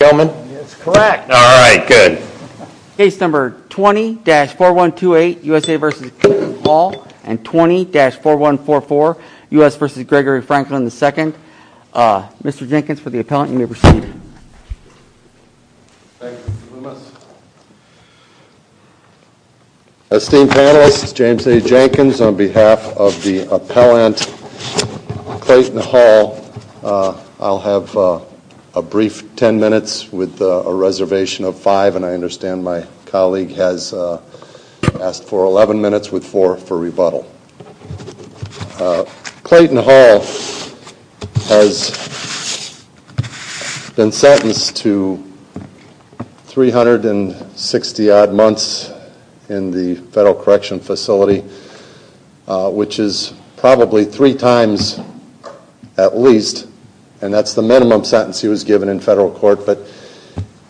Correct. All right, good. Case number 20-4128 USA v. Clayton Hall and 20-4144 USA v. Gregory Franklin II. Mr. Jenkins for the appellant, you may proceed. Esteemed panelists, James A. Jenkins on behalf of the appellant Clayton Hall. I'll have a brief 10 minutes with a reservation of 5 and I understand my colleague has asked for 11 minutes with 4 for rebuttal. Clayton Hall has been sentenced to 360 odd months in the federal correction facility, which is probably three times at least, and that's the minimum sentence he was given in federal court, but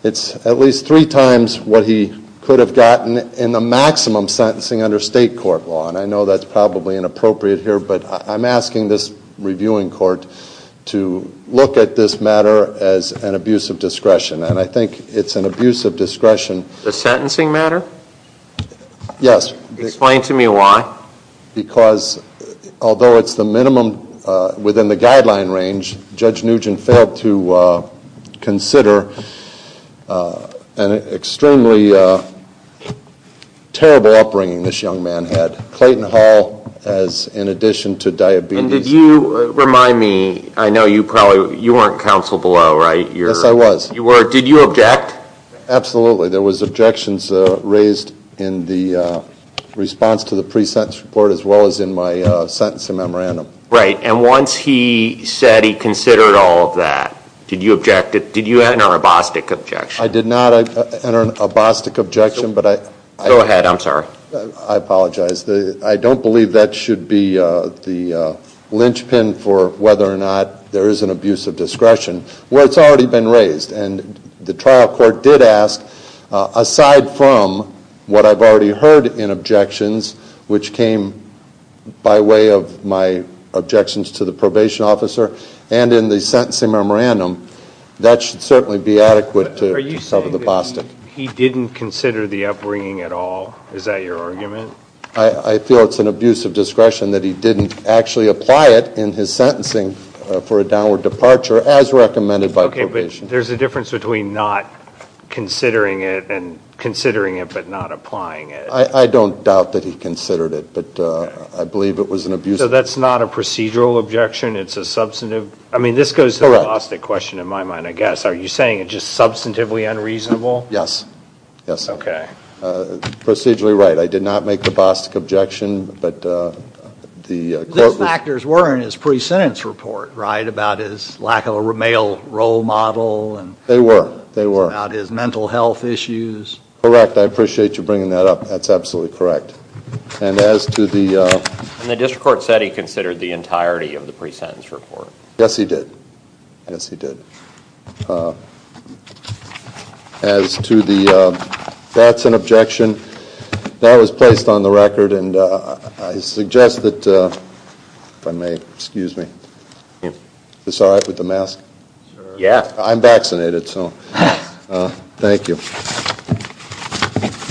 it's at least three times what he could have gotten in the maximum sentencing under state court law. And I know that's probably inappropriate here, but I'm asking this reviewing court to look at this matter as an abuse of power. Yes. Explain to me why. Because although it's the minimum within the guideline range, Judge Nugent failed to consider an extremely terrible upbringing this young man had. Clayton Hall has, in addition to diabetes. And did you remind me, I know you probably, you weren't counsel below, right? Yes, I was. You were. Did you object? Absolutely. There was objections raised in the response to the pre-sentence report as well as in my sentencing memorandum. Right. And once he said he considered all of that, did you object it? Did you enter an abostic objection? I did not enter an abostic objection, but I. Go ahead, I'm sorry. I apologize. I don't believe that should be the lynchpin for whether or not there is an abuse of discretion. Well, it's already been raised, and the trial court did ask, aside from what I've already heard in objections, which came by way of my objections to the probation officer and in the sentencing memorandum, that should certainly be adequate to cover the apostate. Are you saying that he didn't consider the upbringing at all? Is that your argument? I feel it's an abuse of discretion that he didn't actually apply it in his sentencing for a downward departure as recommended by probation. Okay, but there's a difference between not considering it and considering it but not applying it. I don't doubt that he considered it, but I believe it was an abuse. So that's not a procedural objection, it's a substantive. I mean, this goes to the apostate question in my mind, I guess. Are you saying it's just substantively unreasonable? Yes, yes. Okay. Procedurally right. I did not make the objection, but the court... Those factors were in his pre-sentence report, right, about his lack of a male role model. They were, they were. About his mental health issues. Correct, I appreciate you bringing that up, that's absolutely correct. And as to the... And the district court said he considered the entirety of the pre-sentence report. Yes, he did. Yes, he did. As to the... That's an objection. That was placed on the record and I suggest that... If I may, excuse me. Is this all right with the mask? Yeah. I'm vaccinated, so thank you.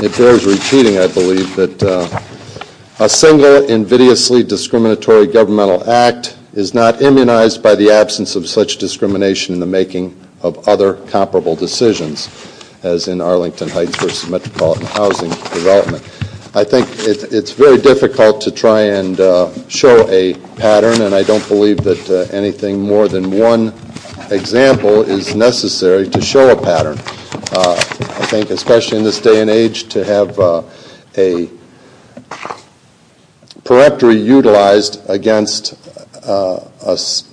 It bears repeating, I believe, that a single invidiously discriminatory governmental act is not immunized by the absence of such discrimination in the making of other comparable decisions, as in Arlington Heights versus Metropolitan Housing Development. I think it's very difficult to try and show a pattern and I don't believe that anything more than one example is necessary to show a pattern. I think, especially in this day and age, to have a pereptory utilized against an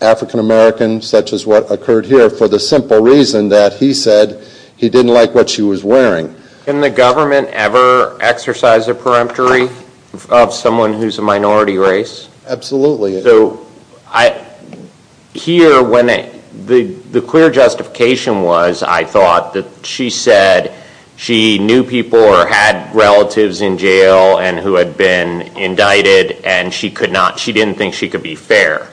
African-American, such as what occurred here, for the simple reason that he said he didn't like what she was wearing. Can the government ever exercise a peremptory of someone who's a minority race? Absolutely. So, I... Here, when the clear justification was, I thought that she said she knew people or had relatives in jail and who had been indicted and she could not, she didn't think she could be fair.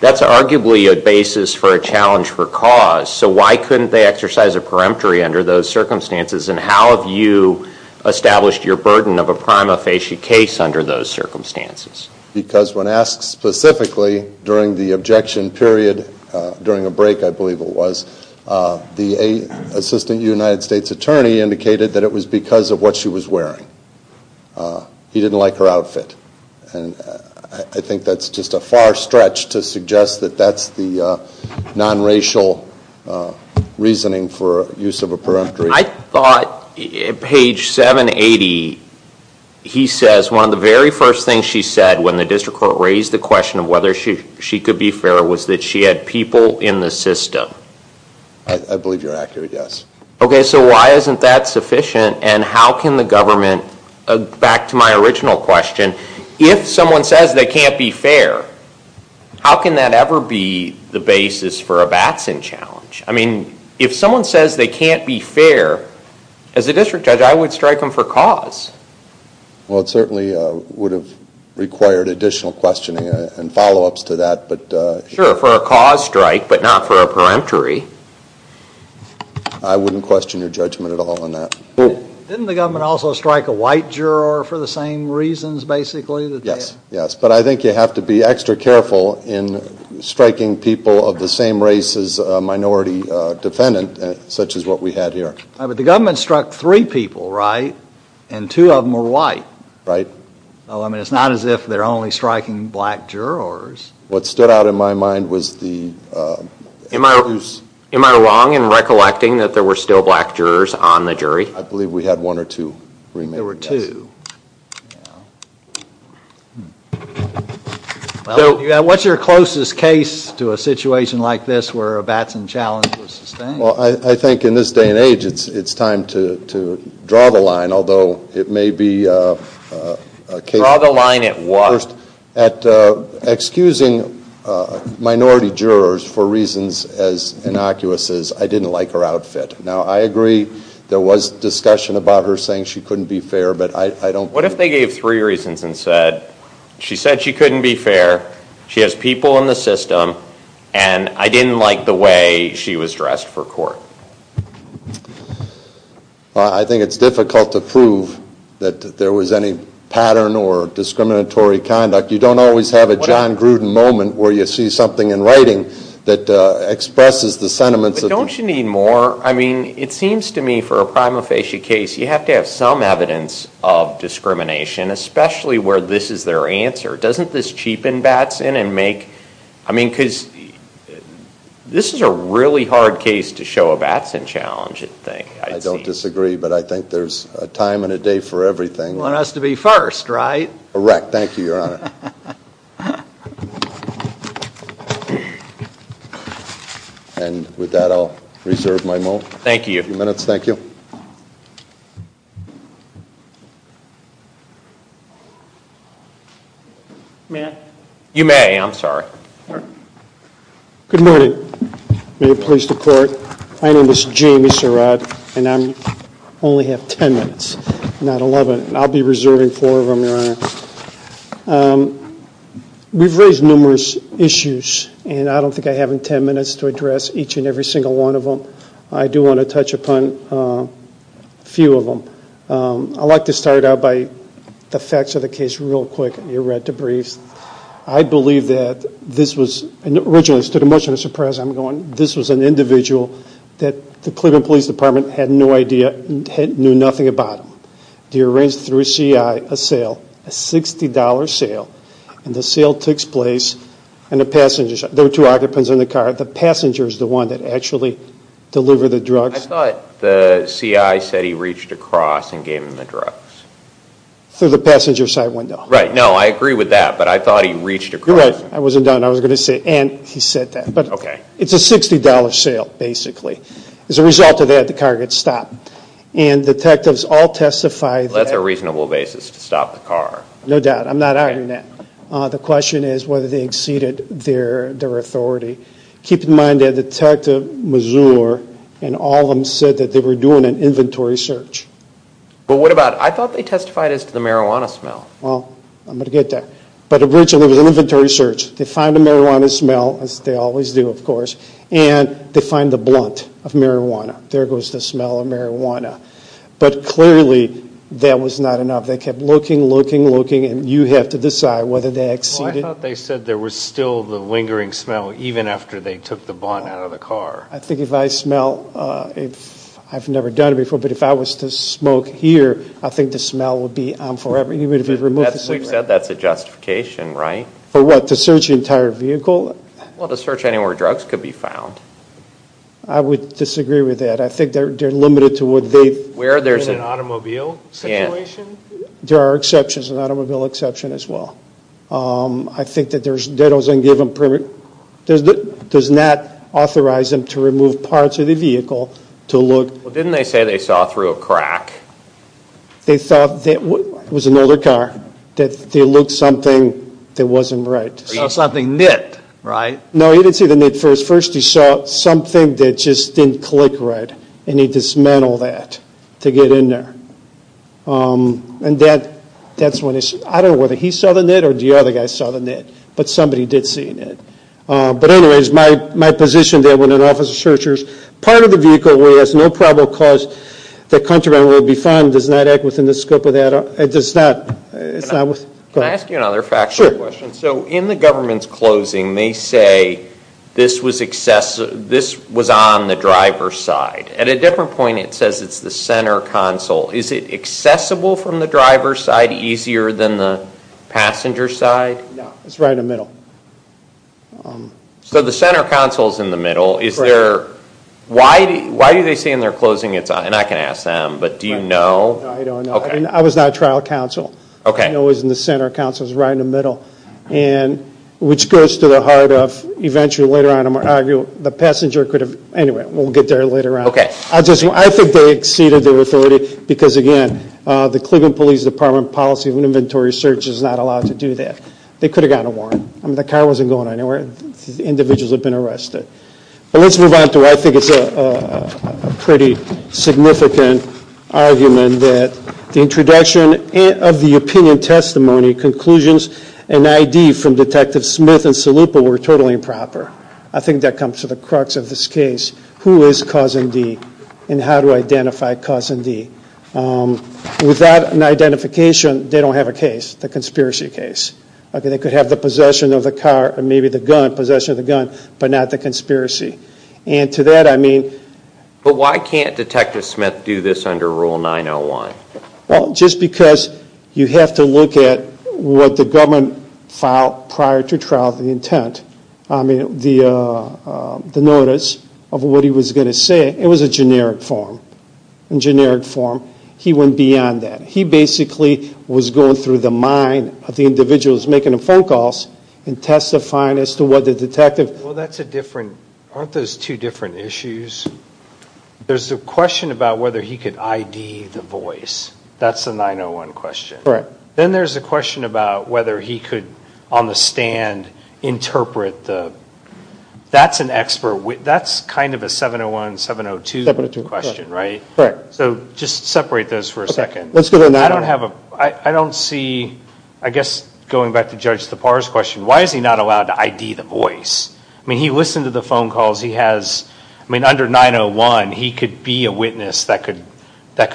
That's arguably a basis for a challenge for cause, so why couldn't they exercise a peremptory under those circumstances and how have you established your burden of a prima facie case under those circumstances? Because when asked specifically during the objection period, during a break I believe it was, the assistant United States attorney indicated that it was because of what she was wearing. He didn't like her outfit and I think that's just a far stretch to suggest that that's the non-racial reasoning for use of a peremptory. I thought, page 780, he says one of the very first things she said when the district court raised the question of whether she could be fair was that she had people in the system. I believe you're sufficient and how can the government, back to my original question, if someone says they can't be fair, how can that ever be the basis for a Batson challenge? I mean, if someone says they can't be fair, as a district judge I would strike them for cause. Well, it certainly would have required additional questioning and follow-ups to that, but... Sure, for a cause strike, but not for a peremptory. I wouldn't question your judgment at all on that. Didn't the government also strike a white juror for the same reasons, basically? Yes, yes, but I think you have to be extra careful in striking people of the same race as a minority defendant, such as what we had here. But the government struck three people, right? And two of them were white. Right. I mean, it's not as if they're only striking black jurors. What stood out in my mind was the... Am I wrong in recollecting that there were still black jurors on the jury? I believe we had one or two. There were two. So, what's your closest case to a situation like this where a Batson challenge was sustained? Well, I think in this day and age it's time to draw the line, although it may be... Draw the line at what? At excusing minority jurors for reasons as innocuous as, I didn't like her outfit. Now, I agree there was discussion about her saying she couldn't be fair, but I don't... What if they gave three reasons and said, she said she couldn't be fair, she has people in the system, and I didn't like the way she was dressed for court? I think it's difficult to prove that there was any pattern or discriminatory conduct. You don't always have a John Gruden moment where you see something in writing that expresses the sentiments of... Don't you need more? I mean, it seems to me for a prima facie case, you have to have some evidence of discrimination, especially where this is their answer. Doesn't this cheapen Batson and make... I mean, because this is a really hard case to show a Batson challenge, I think. I don't disagree, but I think there's a time and a day for everything. You want us to be first, right? Correct, thank you, your honor. And with that, I'll reserve my moment. Thank you. A few minutes, thank you. You may, I'm sorry. Good morning. May it please the court, my name is Jamie Sirot, and I only have ten minutes. Not eleven. I'll be reserving four of them, your honor. We've raised numerous issues, and I don't think I have ten minutes to address each and every single one of them. I do want to touch upon a few of them. I'd like to start out by the facts of the case real quick. You read the briefs. I believe that this was, and it originally stood much to my surprise, I'm going, this was an individual that the Cleveland Police Department had no idea, knew nothing about. They arranged through a C.I. a sale, a $60 sale, and the sale takes place in a passenger side, there were two occupants in the car, the passenger is the one that actually delivered the drugs. I thought the C.I. said he reached across and gave him the drugs. Through the passenger side window. Right, no, I agree with that, but I thought he reached across. You're right, I wasn't done, I was going to say, and he said that. Okay. It's a $60 sale, basically. As a result of that, the car gets stopped. And detectives all testify. Well, that's a reasonable basis to stop the car. No doubt, I'm not arguing that. The question is whether they exceeded their authority. Keep in mind that Detective Mazur and all of them said that they were doing an inventory search. But what about, I thought they testified as to the marijuana smell. Well, I'm going to get there. But originally it was an inventory search. They find the marijuana smell, as they always do, of course, and they find the blunt of marijuana. There goes the smell of marijuana. But clearly, that was not enough. They kept looking, looking, looking, and you have to decide whether they exceeded. I thought they said there was still the lingering smell, even after they took the blunt out of the car. I think if I smell, I've never done it before, but if I was to smoke here, I think the smell would be on forever. We've said that's a justification, right? For what? To search the entire vehicle? Well, to search anywhere drugs could be found. I would disagree with that. I think they're limited to what they've. Where there's an automobile situation? There are exceptions, an automobile exception as well. I think that doesn't give them permission. It does not authorize them to remove parts of the vehicle to look. Well, didn't they say they saw through a crack? They thought it was an older car. That they looked something that wasn't right. Can I ask you another factual question? So in the government's closing, they say this was on the driver's side. At a different point, it says it's the center console. Is it accessible from the driver's side? Is the driver's side easier than the passenger's side? No, it's right in the middle. So the center console is in the middle. Why do they say in their closing, and I can ask them, but do you know? I don't know. I was not a trial counsel. I know it was in the center console. It's right in the middle. Which goes to the heart of, eventually, later on, I'm going to argue, the passenger could have. Anyway, we'll get there later on. I think they exceeded their authority because, again, the Cleveland Police Department policy of an inventory search is not allowed to do that. They could have gotten a warrant. The car wasn't going anywhere. Individuals have been arrested. But let's move on to what I think is a pretty significant argument that the introduction of the opinion testimony conclusions and ID from Detective Smith and Salupa were totally improper. I think that comes to the crux of this case. Who is Cousin D? And how do I identify Cousin D? Without an identification, they don't have a case. The conspiracy case. They could have the possession of the car or maybe the gun, possession of the gun, but not the conspiracy. And to that I mean. But why can't Detective Smith do this under Rule 901? Well, just because you have to look at what the government filed prior to trial, the intent, the notice of what he was going to say. It was a generic form. In generic form, he went beyond that. He basically was going through the mind of the individuals making the phone calls and testifying as to what the detective. Well, that's a different. Aren't those two different issues? There's a question about whether he could ID the voice. That's the 901 question, right? Then there's a question about whether he could on the stand interpret the. That's an expert. That's kind of a 701, 702 question, right? So just separate those for a second. I don't see, I guess going back to Judge Tappar's question, why is he not allowed to ID the voice? I mean, he listened to the phone calls. He has, I mean, under 901, he could be a witness that could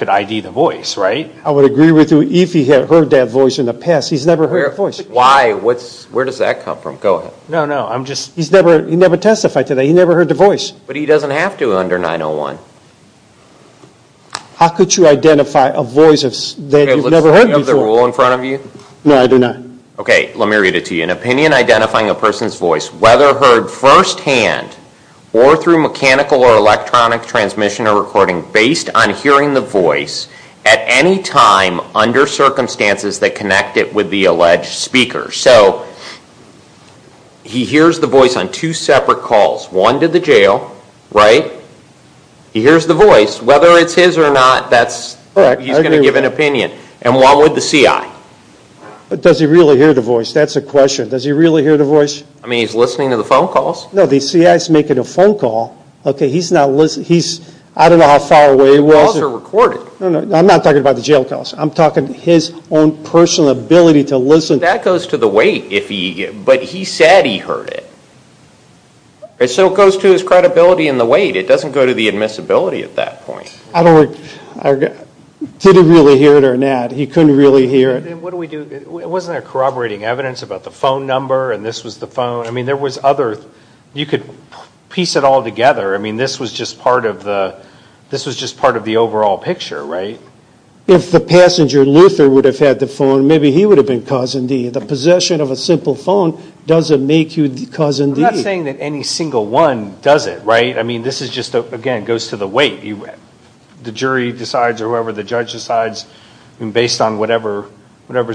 ID the voice, right? I would agree with you. If he had heard that voice in the past, he's never heard the voice. Why? Where does that come from? Go ahead. No, no, I'm just. He never testified to that. He never heard the voice. But he doesn't have to under 901. How could you identify a voice that you've never heard before? Do you have the rule in front of you? No, I do not. Okay, let me read it to you. An opinion identifying a person's voice, whether heard firsthand or through mechanical or electronic transmission or recording, based on hearing the voice at any time under circumstances that connect it with the alleged speaker. So, he hears the voice on two separate calls. One to the jail, right? He hears the voice. Whether it's his or not, that's, he's going to give an opinion. And one with the CI. But does he really hear the voice? That's the question. Does he really hear the voice? I mean, he's listening to the phone calls. No, the CI's making a phone call. Okay, he's not listening. He's, I don't know how far away he was. The calls are recorded. No, no, I'm not talking about the jail calls. I'm talking his own personal ability to listen. That goes to the weight if he, but he said he heard it. And so it goes to his credibility and the weight. It doesn't go to the admissibility at that point. I don't, I didn't really hear it or not. He couldn't really hear it. And what do we do, wasn't there corroborating evidence about the phone number and this was the phone? I mean, there was other, you could piece it all together. I mean, this was just part of the, this was just part of the overall picture, right? If the passenger, Luther, would have had the phone, maybe he would have been cause and deed. The possession of a simple phone doesn't make you cause and deed. I'm not saying that any single one does it, right? I mean, this is just, again, goes to the weight. The jury decides or whoever the judge decides based on whatever's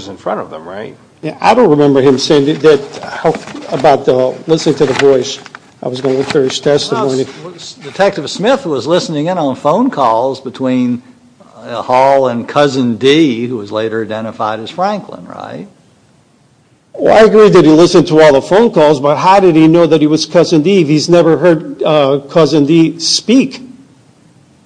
in front of them, right? Yeah, I don't remember him saying that, about listening to the voice. I was going to look through his testimony. Detective Smith was listening in on phone calls between Hall and Cousin Dee, who was later identified as Franklin, right? Well, I agree that he listened to all the phone calls, but how did he know that he was Cousin Dee if he's never heard Cousin Dee speak?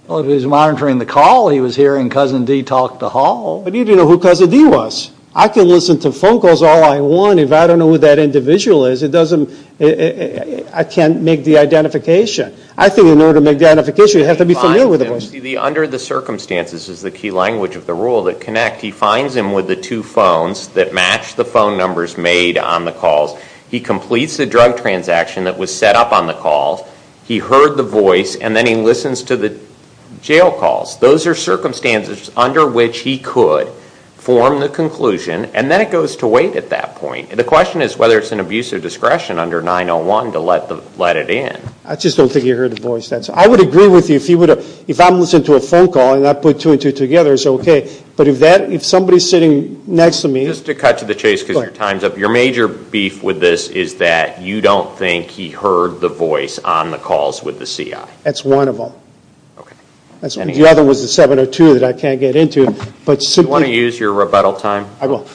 Well, if he was monitoring the call, he was hearing Cousin Dee talk to Hall. But he didn't know who Cousin Dee was. I can listen to phone calls all I want. If I don't know who that individual is, it doesn't, I can't make the identification. I think in order to make the identification, you have to be familiar with the voice. Under the circumstances is the key language of the rule that connect. He finds him with the two phones that match the phone numbers made on the calls. He completes the drug transaction that was set up on the calls. He heard the voice, and then he listens to the jail calls. Those are circumstances under which he could form the conclusion, and then it goes to wait at that point. The question is whether it's an abuse of discretion under 901 to let it in. I just don't think he heard the voice. I would agree with you. If I'm listening to a phone call and I put two and two together, it's okay. But if somebody's sitting next to me... Just to cut to the chase because your time's up, your major beef with this is that you don't think he heard the voice on the calls with the CI. That's one of them. The other was the 702 that I can't get into. Do you want to use your rebuttal time? I will.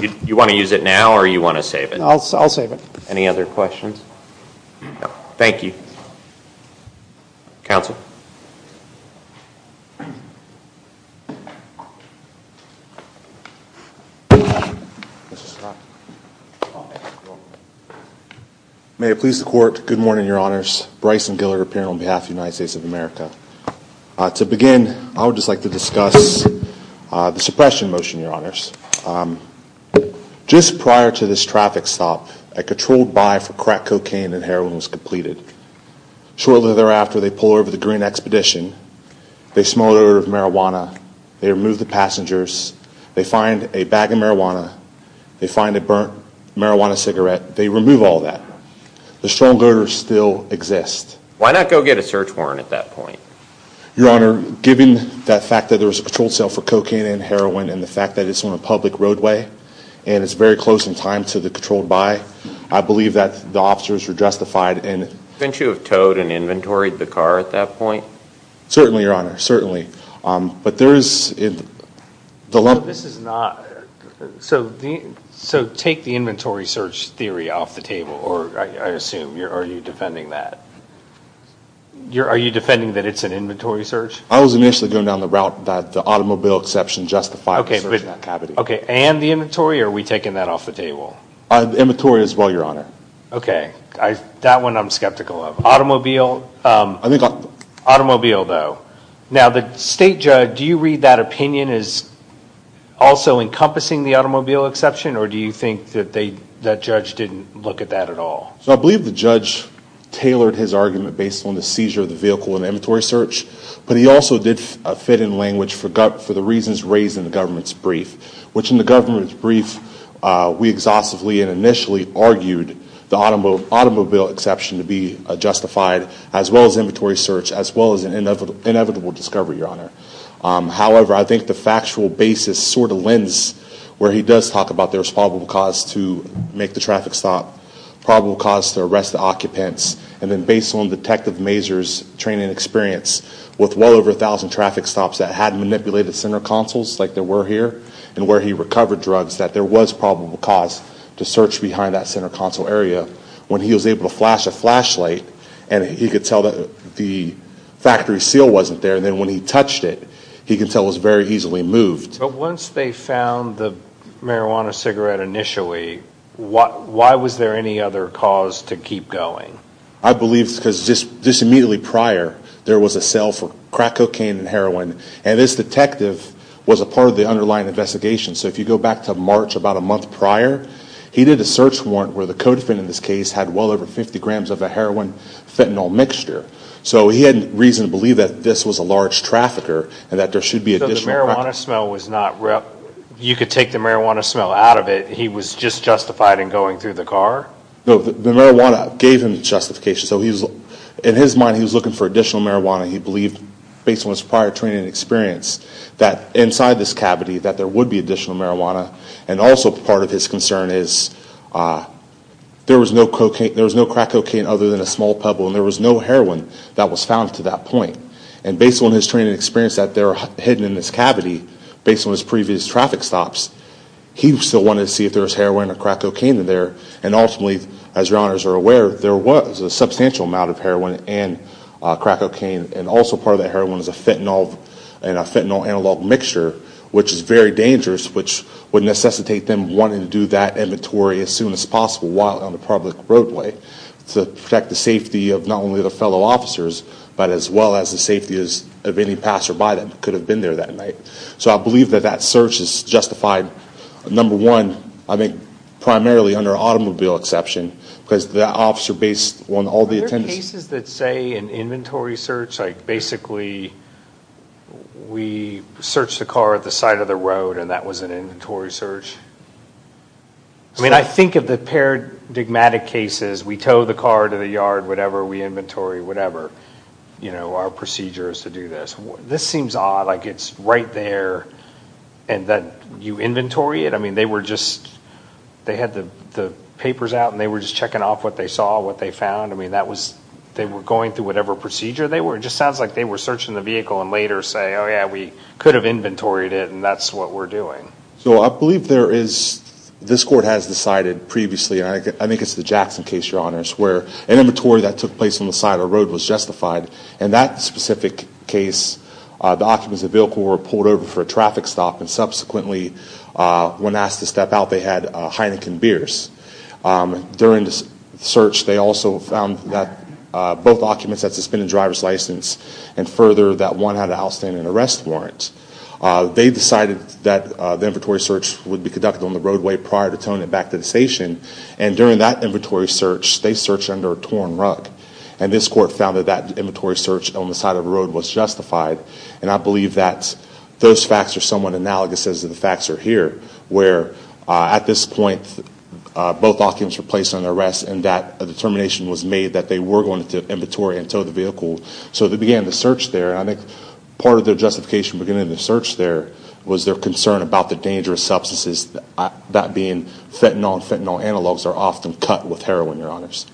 Do you want to use it now or do you want to save it? I'll save it. Any other questions? Thank you. Counsel. Mr. Scott. May it please the Court, good morning, Your Honors. Bryson Gillard, appearing on behalf of the United States of America. To begin, I would just like to discuss the suppression motion, Your Honors. Just prior to this traffic stop, a controlled buy for crack cocaine and heroin was completed. Shortly thereafter, they pull over the Green Expedition. They smuggle marijuana. They remove the passengers. They find a bag of marijuana. They find a burnt marijuana cigarette. They remove all that. The strong odor still exists. Why not go get a search warrant at that point? Your Honor, given that fact that there was a controlled sale for cocaine and heroin and the fact that it's on a public roadway and it's very close in time to the controlled buy, I believe that the officers were justified in Didn't you have towed and inventoried the car at that point? Certainly, Your Honor, certainly. But there is This is not So take the inventory search theory off the table, or I assume, are you defending that? Are you defending that it's an inventory search? I was initially going down the route that the automobile exception justified the search of that cavity. Okay, and the inventory, or are we taking that off the table? Inventory as well, Your Honor. Okay, that one I'm skeptical of. Automobile? Automobile, though. Now, the state judge, do you read that opinion as also encompassing the automobile exception, or do you think that judge didn't look at that at all? I believe the judge tailored his argument based on the seizure of the vehicle in the inventory search, but he also did fit in language for the reasons raised in the government's brief, which in the government's brief we exhaustively and initially argued the automobile exception to be justified, as well as inventory search, as well as an inevitable discovery, Your Honor. However, I think the factual basis sort of lends where he does talk about there's probable cause to make the traffic stop, probable cause to arrest the occupants, and then based on Detective Mazur's training and experience with well over 1,000 traffic stops that hadn't manipulated center consoles like there were here, and where he recovered drugs, that there was probable cause to search behind that center console area. When he was able to flash a flashlight, and he could tell that the factory seal wasn't there, and then when he touched it, he could tell it was very easily moved. But once they found the marijuana cigarette initially, why was there any other cause to keep going? I believe because just immediately prior there was a sale for crack cocaine and heroin, and this detective was a part of the underlying investigation. So if you go back to March, about a month prior, he did a search warrant where the co-defendant in this case had well over 50 grams of a heroin-fentanyl mixture. So he had reason to believe that this was a large trafficker and that there should be additional traffic. So the marijuana smell was not, you could take the marijuana smell out of it. He was just justified in going through the car? No, the marijuana gave him justification. So in his mind he was looking for additional marijuana. He believed based on his prior training and experience that inside this cavity that there would be additional marijuana. And also part of his concern is there was no crack cocaine other than a small pebble, and there was no heroin that was found to that point. And based on his training and experience that they're hidden in this cavity, based on his previous traffic stops, he still wanted to see if there was heroin or crack cocaine in there. And ultimately, as your honors are aware, there was a substantial amount of heroin and crack cocaine. And also part of that heroin is a fentanyl and a fentanyl-analog mixture, which is very dangerous, which would necessitate them wanting to do that inventory as soon as possible while on the public roadway to protect the safety of not only the fellow officers, but as well as the safety of any passerby that could have been there that night. So I believe that that search is justified. Number one, I think primarily under automobile exception because the officer based on all the attendance. Are there cases that say an inventory search? Like basically we searched the car at the side of the road and that was an inventory search? I mean, I think of the paradigmatic cases. We tow the car to the yard, whatever, we inventory, whatever, you know, our procedure is to do this. This seems odd. Like it's right there and then you inventory it. I mean, they were just, they had the papers out and they were just checking off what they saw, what they found. I mean, that was, they were going through whatever procedure they were. It just sounds like they were searching the vehicle and later say, oh, yeah, we could have inventoried it, and that's what we're doing. So I believe there is, this court has decided previously, and I think it's the Jackson case, Your Honors, where an inventory that took place on the side of the road was justified, and that specific case the occupants of the vehicle were pulled over for a traffic stop and subsequently when asked to step out they had Heineken beers. During the search they also found that both occupants had suspended driver's license and further that one had an outstanding arrest warrant. They decided that the inventory search would be conducted on the roadway prior to towing it back to the station, and during that inventory search they searched under a torn rug, and this court found that that inventory search on the side of the road was justified, and I believe that those facts are somewhat analogous as the facts are here, where at this point both occupants were placed under arrest and that a determination was made that they were going to inventory and tow the vehicle. So they began the search there, and I think part of their justification beginning the search there was their concern about the dangerous substances, that being fentanyl. Fentanyl analogs are often cut with heroin, Your Honors.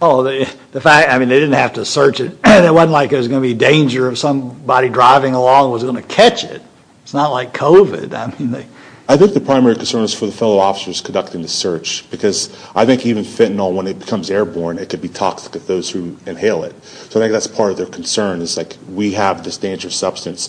Oh, the fact, I mean, they didn't have to search it. It wasn't like it was going to be danger if somebody driving along was going to catch it. It's not like COVID. Because I think even fentanyl, when it becomes airborne, it could be toxic to those who inhale it. So I think that's part of their concern is like we have this dangerous substance.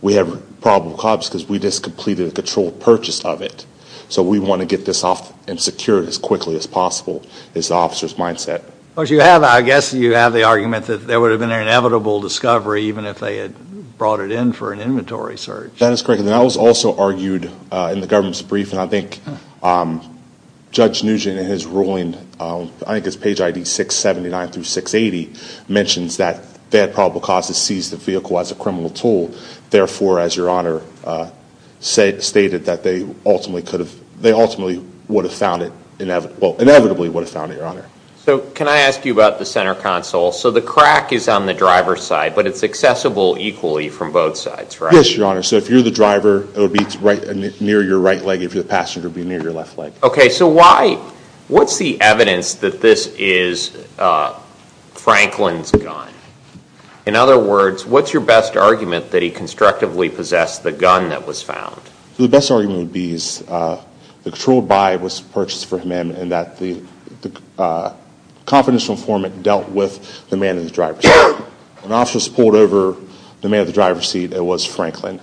We have probable cause because we just completed a controlled purchase of it, so we want to get this off and secure it as quickly as possible is the officer's mindset. But you have, I guess you have the argument that there would have been an inevitable discovery even if they had brought it in for an inventory search. That is correct, and that was also argued in the government's brief, and I think Judge Nugent in his ruling, I think it's page ID 679 through 680, mentions that they had probable cause to seize the vehicle as a criminal tool. Therefore, as Your Honor stated, that they ultimately would have found it, well, inevitably would have found it, Your Honor. So can I ask you about the center console? So the crack is on the driver's side, but it's accessible equally from both sides, right? Yes, Your Honor. So if you're the driver, it would be near your right leg. If you're the passenger, it would be near your left leg. Okay, so why, what's the evidence that this is Franklin's gun? In other words, what's your best argument that he constructively possessed the gun that was found? The best argument would be the controlled buy was purchased for him and that the confidential informant dealt with the man in the driver's seat. When officers pulled over the man in the driver's seat, it was Franklin.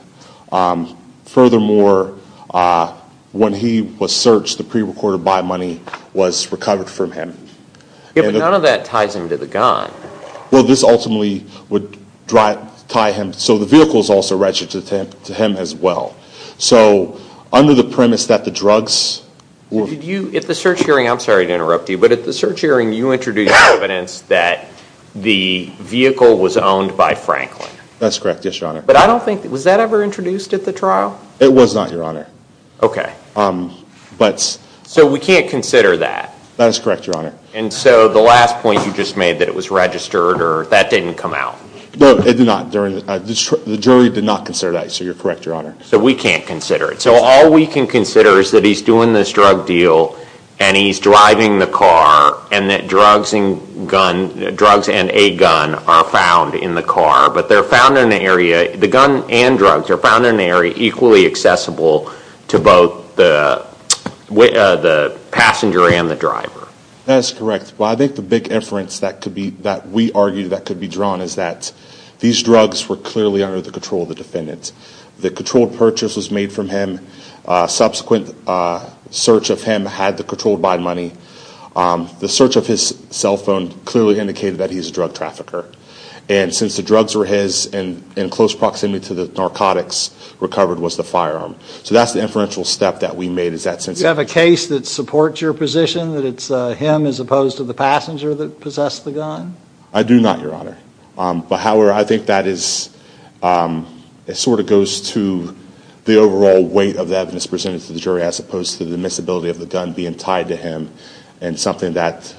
Furthermore, when he was searched, the pre-recorded buy money was recovered from him. Yeah, but none of that ties him to the gun. Well, this ultimately would tie him, so the vehicle is also registered to him as well. So under the premise that the drugs were- Did you, at the search hearing, I'm sorry to interrupt you, but at the search hearing you introduced evidence that the vehicle was owned by Franklin. That's correct, yes, Your Honor. But I don't think, was that ever introduced at the trial? It was not, Your Honor. Okay. But- So we can't consider that. That is correct, Your Honor. And so the last point you just made that it was registered or that didn't come out. No, it did not. The jury did not consider that, so you're correct, Your Honor. So we can't consider it. So all we can consider is that he's doing this drug deal and he's driving the car and that drugs and a gun are found in the car. But they're found in an area, the gun and drugs are found in an area equally accessible to both the passenger and the driver. That is correct. Well, I think the big inference that we argue that could be drawn is that these drugs were clearly under the control of the defendant. The controlled purchase was made from him. Subsequent search of him had the controlled buy money. The search of his cell phone clearly indicated that he's a drug trafficker. And since the drugs were his in close proximity to the narcotics, recovered was the firearm. So that's the inferential step that we made. Do you have a case that supports your position, that it's him as opposed to the passenger that possessed the gun? I do not, Your Honor. But however, I think that is, it sort of goes to the overall weight of the evidence presented to the jury as opposed to the misability of the gun being tied to him and something that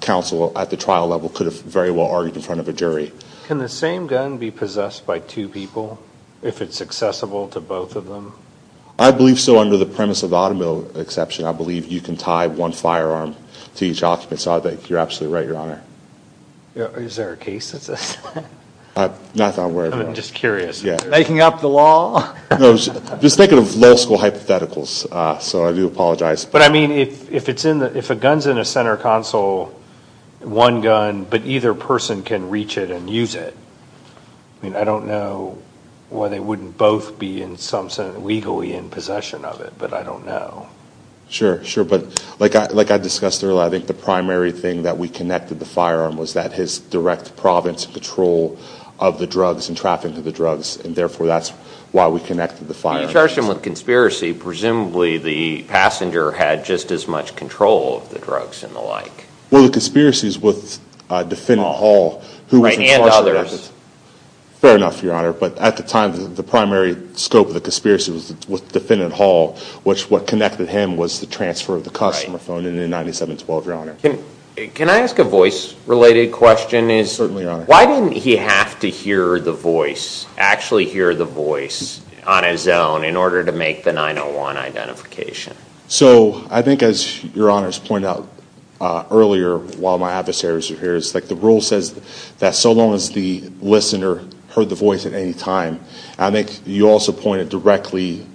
counsel at the trial level could have very well argued in front of a jury. Can the same gun be possessed by two people if it's accessible to both of them? I believe so under the premise of the automobile exception. I believe you can tie one firearm to each occupant. So I think you're absolutely right, Your Honor. Is there a case that says that? Not that I'm aware of, no. I'm just curious. Yeah. Making up the law? No, just thinking of law school hypotheticals. So I do apologize. But I mean, if a gun's in a center console, one gun, but either person can reach it and use it, I mean, I don't know why they wouldn't both be in some sense legally in possession of it, but I don't know. Sure, sure. But like I discussed earlier, I think the primary thing that we connected the firearm was that his direct province control of the drugs and traffic to the drugs, and therefore that's why we connected the firearm. When you charged him with conspiracy, presumably the passenger had just as much control of the drugs and the like. Well, the conspiracies with defendant Hall, who was in charge of that. And others. Fair enough, Your Honor. But at the time, the primary scope of the conspiracy was with defendant Hall, which what connected him was the transfer of the customer phone in 9712, Your Honor. Can I ask a voice-related question? Certainly, Your Honor. Why didn't he have to hear the voice, actually hear the voice on his own, in order to make the 901 identification? So I think, as Your Honors pointed out earlier while my adversaries were here, it's like the rule says that so long as the listener heard the voice at any time. I think you also pointed directly,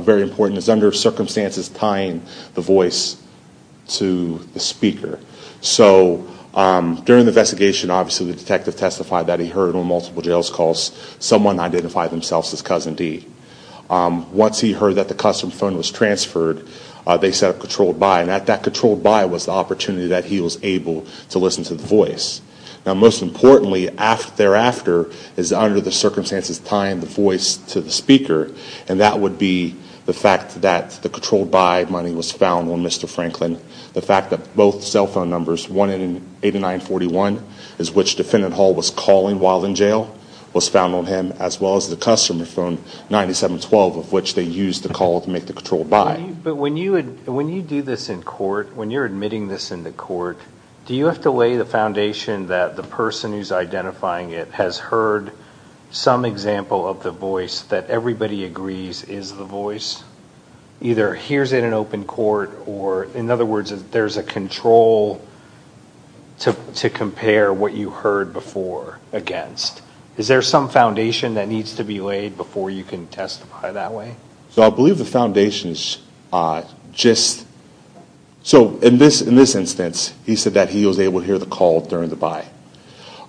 very important, is under circumstances tying the voice to the speaker. So during the investigation, obviously, the detective testified that he heard on multiple jails calls someone identify themselves as Cousin D. Once he heard that the customer phone was transferred, they set up controlled by. And that controlled by was the opportunity that he was able to listen to the voice. Now most importantly, thereafter, is under the circumstances tying the voice to the speaker. And that would be the fact that the controlled by money was found on Mr. Franklin. The fact that both cell phone numbers, 18941, is which defendant Hall was calling while in jail, was found on him, as well as the customer phone, 9712, of which they used to call to make the controlled by. But when you do this in court, when you're admitting this in the court, do you have to lay the foundation that the person who's identifying it has heard some example of the voice that everybody agrees is the voice? Either hears it in open court or, in other words, there's a control to compare what you heard before against. Is there some foundation that needs to be laid before you can testify that way? So I believe the foundation is just. So in this instance, he said that he was able to hear the call during the buy.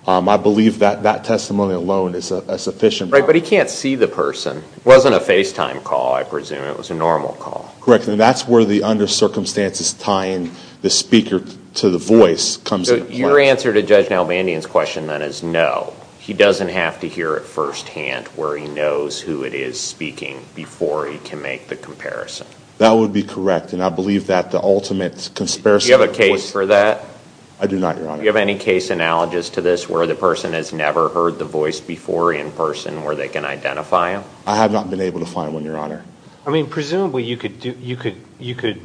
I believe that that testimony alone is a sufficient. Right, but he can't see the person. It wasn't a FaceTime call, I presume. It was a normal call. Correct, and that's where the under circumstances tying the speaker to the voice comes into play. So your answer to Judge Nalbandian's question then is no. He doesn't have to hear it firsthand where he knows who it is speaking before he can make the comparison. That would be correct, and I believe that the ultimate conspiracy. Do you have a case for that? I do not, Your Honor. Do you have any case analogies to this where the person has never heard the voice before in person where they can identify him? I have not been able to find one, Your Honor. I mean, presumably you could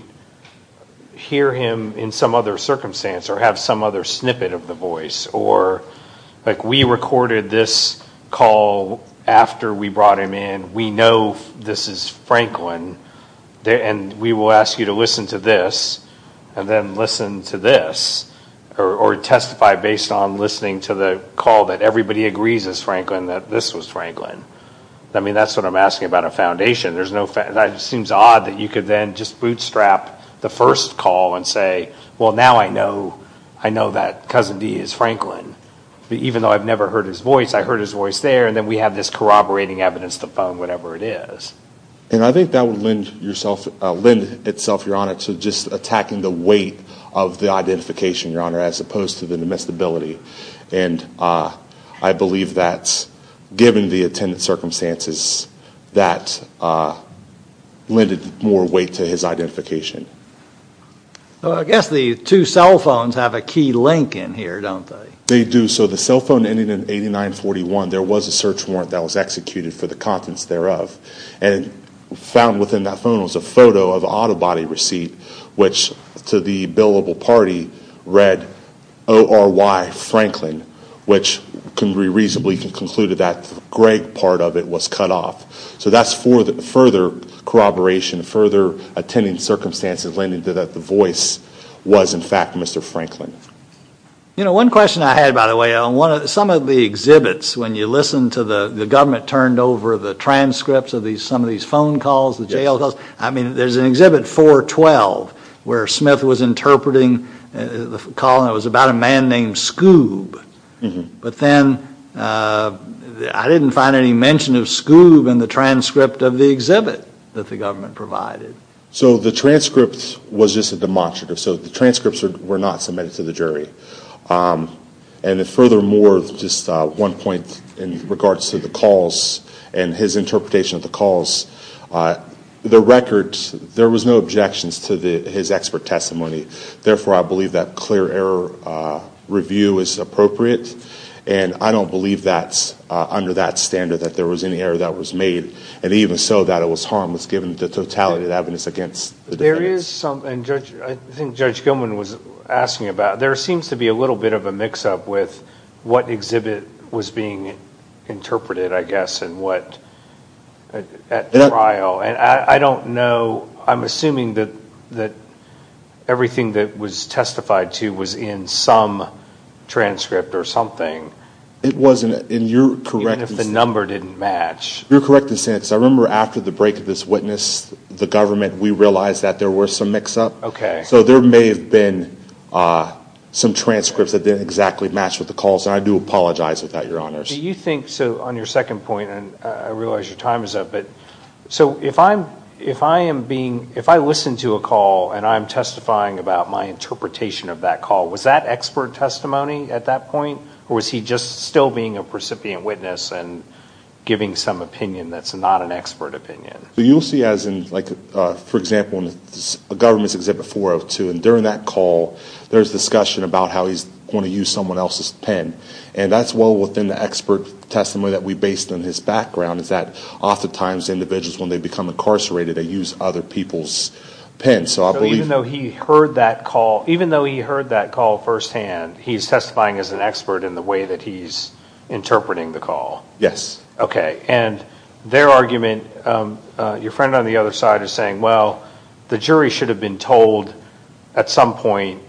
hear him in some other circumstance or have some other snippet of the voice, or like we recorded this call after we brought him in. We know this is Franklin, and we will ask you to listen to this and then listen to this or testify based on listening to the call that everybody agrees is Franklin, that this was Franklin. I mean, that's what I'm asking about a foundation. It seems odd that you could then just bootstrap the first call and say, well, now I know that Cousin D is Franklin. Even though I've never heard his voice, I heard his voice there, and then we have this corroborating evidence, the phone, whatever it is. And I think that would lend itself, Your Honor, to just attacking the weight of the identification, Your Honor, as opposed to the domesticability, and I believe that's given the attendant circumstances that lended more weight to his identification. Well, I guess the two cell phones have a key link in here, don't they? They do. So the cell phone ending in 8941, there was a search warrant that was executed for the contents thereof, and found within that phone was a photo of an auto body receipt, which to the billable party read, O-R-Y, Franklin, which can be reasonably concluded that Greg part of it was cut off. So that's for the further corroboration, further attendant circumstances lending to that the voice was in fact Mr. Franklin. You know, one question I had, by the way, some of the exhibits, when you listen to the government turned over the transcripts of some of these phone calls, the jail calls, I mean, there's an exhibit 412 where Smith was interpreting the call, and it was about a man named Scoob. But then I didn't find any mention of Scoob in the transcript of the exhibit that the government provided. So the transcript was just a demonstrative. So the transcripts were not submitted to the jury. And furthermore, just one point in regards to the calls and his interpretation of the calls, the records, there was no objections to his expert testimony. Therefore, I believe that clear error review is appropriate. And I don't believe that's under that standard that there was any error that was made. And even so, that it was harmless given the totality of the evidence against the defendants. There is some, and Judge, I think Judge Gilman was asking about, there seems to be a little bit of a mix-up with what exhibit was being interpreted, I guess, and what at trial. And I don't know, I'm assuming that everything that was testified to was in some transcript or something. It wasn't. And you're correct. Even if the number didn't match. You're correct in saying this. I remember after the break of this witness, the government, we realized that there was some mix-up. Okay. So there may have been some transcripts that didn't exactly match with the calls. And I do apologize about that, Your Honors. Do you think, so on your second point, and I realize your time is up, but so if I am being, if I listen to a call and I'm testifying about my interpretation of that call, was that expert testimony at that point? Or was he just still being a recipient witness and giving some opinion that's not an expert opinion? You'll see as in, like, for example, in the government's exhibit 402, and during that call, there's discussion about how he's going to use someone else's pen. And that's well within the expert testimony that we based on his background, is that oftentimes individuals, when they become incarcerated, they use other people's pens. So I believe. So even though he heard that call, even though he heard that call firsthand, he's testifying as an expert in the way that he's interpreting the call? Yes. Okay. And their argument, your friend on the other side is saying, well, the jury should have been told at some point,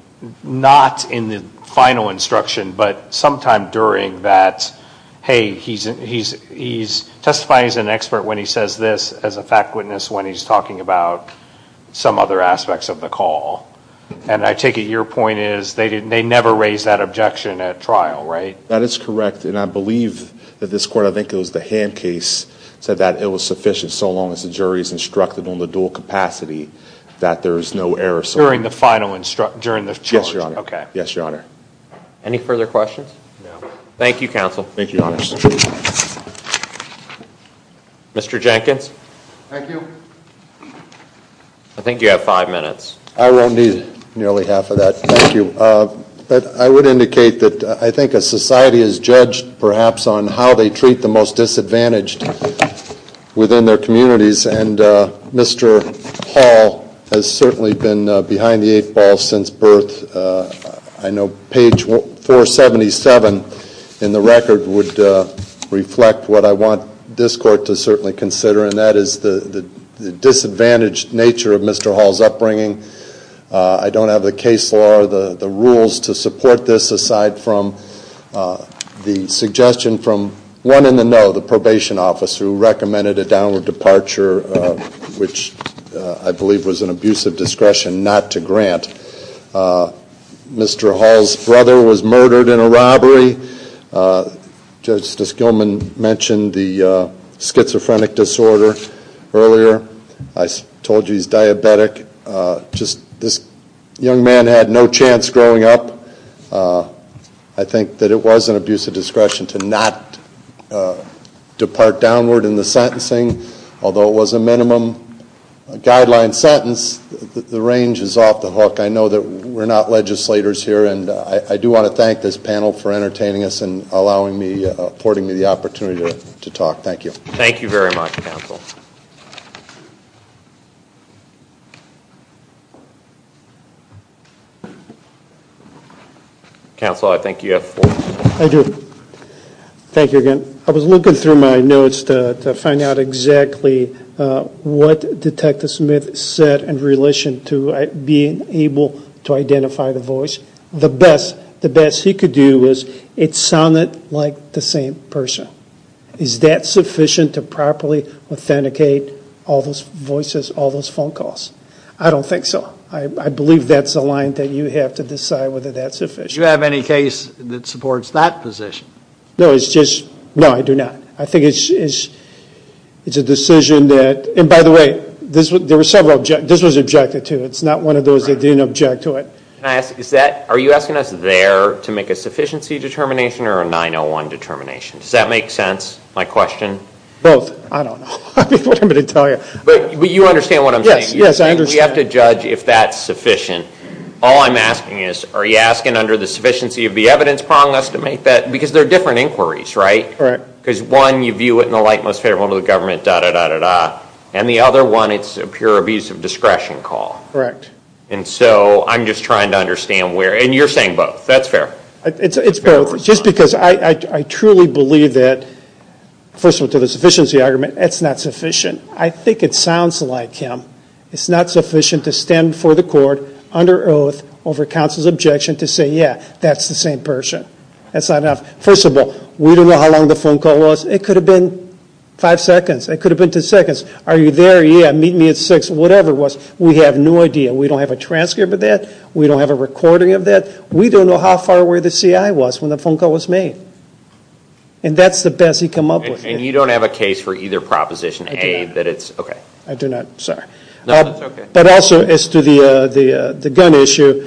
not in the final instruction, but sometime during that, hey, he's testifying as an expert when he says this, as a fact witness when he's talking about some other aspects of the call. And I take it your point is they never raised that objection at trial, right? That is correct. And I believe that this court, I think it was the hand case, said that it was sufficient so long as the jury is instructed on the dual capacity that there is no error. During the final instruction? Yes, Your Honor. Okay. Yes, Your Honor. Any further questions? No. Thank you, counsel. Thank you, Your Honor. Mr. Jenkins? Thank you. I think you have five minutes. I won't need nearly half of that. Thank you. But I would indicate that I think a society is judged, perhaps, on how they treat the most disadvantaged within their communities, and Mr. Hall has certainly been behind the eight balls since birth. I know page 477 in the record would reflect what I want this court to certainly consider, and that is the disadvantaged nature of Mr. Hall's upbringing. I don't have the case law or the rules to support this aside from the suggestion from one in the know, the probation officer, who recommended a downward departure, which I believe was an abuse of discretion not to grant. Mr. Hall's brother was murdered in a robbery. Justice Gilman mentioned the schizophrenic disorder earlier. I told you he's diabetic. This young man had no chance growing up. I think that it was an abuse of discretion to not depart downward in the sentencing. Although it was a minimum guideline sentence, the range is off the hook. I know that we're not legislators here, and I do want to thank this panel for entertaining us and allowing me, affording me the opportunity to talk. Thank you. Thank you very much, counsel. Counsel, I think you have four minutes. I do. Thank you again. I was looking through my notes to find out exactly what Detective Smith said in relation to being able to identify the voice. The best he could do was it sounded like the same person. Is that sufficient to properly authenticate all those voices, all those phone calls? I don't think so. I believe that's a line that you have to decide whether that's sufficient. Do you have any case that supports that position? No, I do not. I think it's a decision that, and by the way, this was objected to. It's not one of those that didn't object to it. Are you asking us there to make a sufficiency determination or a 901 determination? Does that make sense, my question? Both. I don't know what I'm going to tell you. But you understand what I'm saying? Yes, I understand. You have to judge if that's sufficient. All I'm asking is, are you asking under the sufficiency of the evidence prong, because there are different inquiries, right? Right. Because one, you view it in the light most favorable to the government, da-da-da-da-da. And the other one, it's a pure abuse of discretion call. Correct. And so I'm just trying to understand where, and you're saying both. That's fair. It's both. Just because I truly believe that, first of all, to the sufficiency argument, it's not sufficient. I think it sounds like him. It's not sufficient to stand before the court under oath over counsel's objection to say, yeah, that's the same person. That's not enough. First of all, we don't know how long the phone call was. It could have been five seconds. It could have been two seconds. Are you there? Yeah, meet me at six, whatever it was. We have no idea. We don't have a transcript of that. We don't have a recording of that. We don't know how far away the CI was when the phone call was made. And that's the best he come up with. And you don't have a case for either Proposition A that it's, okay. I do not, sorry. No, that's okay. But also as to the gun issue,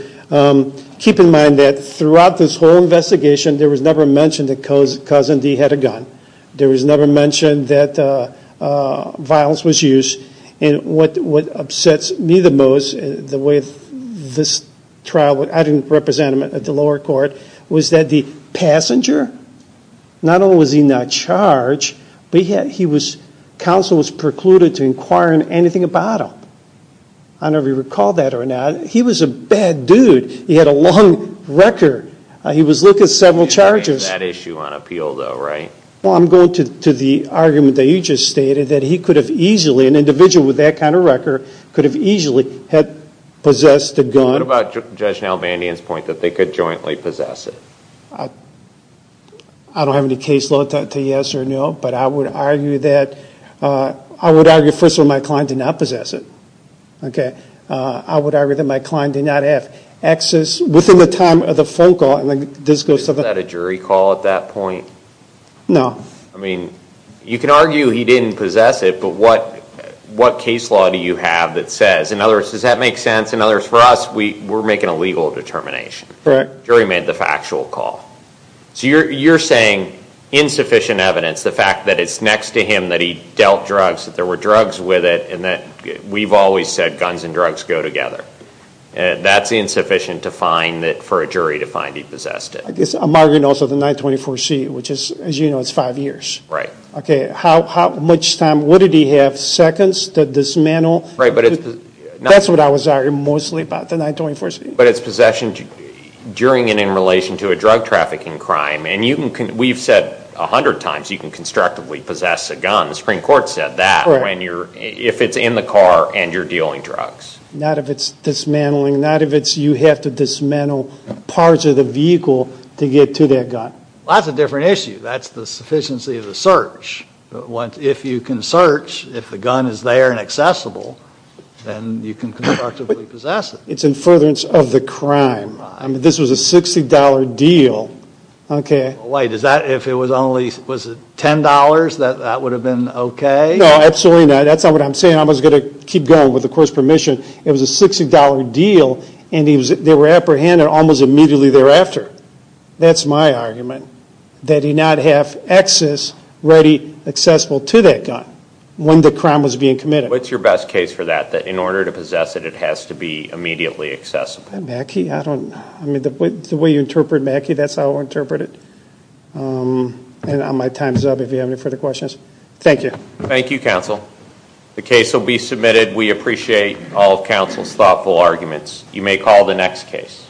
keep in mind that throughout this whole investigation, there was never mentioned that Cousin D had a gun. There was never mentioned that violence was used. And what upsets me the most, the way this trial, I didn't represent him at the lower court, was that the passenger, not only was he not charged, but he was, the counsel was precluded to inquire into anything about him. I don't know if you recall that or not. He was a bad dude. He had a long record. He was looking at several charges. That issue on appeal, though, right? Well, I'm going to the argument that you just stated, that he could have easily, an individual with that kind of record, could have easily had possessed a gun. What about Judge Nalvandian's point that they could jointly possess it? I don't have any case law to say yes or no, but I would argue that, I would argue, first of all, my client did not possess it. Okay? I would argue that my client did not have access, within the time of the phone call, and this goes to the- Was that a jury call at that point? No. I mean, you can argue he didn't possess it, but what case law do you have that says, in other words, does that make sense? In other words, for us, we're making a legal determination. Correct. The jury made the factual call. So you're saying insufficient evidence, the fact that it's next to him, that he dealt drugs, that there were drugs with it, and that we've always said guns and drugs go together. That's insufficient for a jury to find he possessed it. I guess I'm arguing also the 924C, which is, as you know, it's five years. Right. Okay. How much time? Would he have seconds to dismantle? Right, but it's- That's what I was arguing mostly about, the 924C. But it's possession during and in relation to a drug trafficking crime, and we've said a hundred times you can constructively possess a gun. The Supreme Court said that. Right. If it's in the car and you're dealing drugs. Not if it's dismantling. Not if it's you have to dismantle parts of the vehicle to get to that gun. Well, that's a different issue. That's the sufficiency of the search. If you can search, if the gun is there and accessible, then you can constructively possess it. It's in furtherance of the crime. I mean, this was a $60 deal. Okay. Wait, is that if it was only $10 that that would have been okay? No, absolutely not. That's not what I'm saying. I'm just going to keep going with the court's permission. It was a $60 deal, and they were apprehended almost immediately thereafter. That's my argument, that he not have access, ready, accessible to that gun when the crime was being committed. What's your best case for that, that in order to possess it, it has to be immediately accessible? Mackey? I don't know. I mean, the way you interpret Mackey, that's how I'll interpret it. And my time's up if you have any further questions. Thank you. Thank you, counsel. The case will be submitted. We appreciate all of counsel's thoughtful arguments. You may call the next case.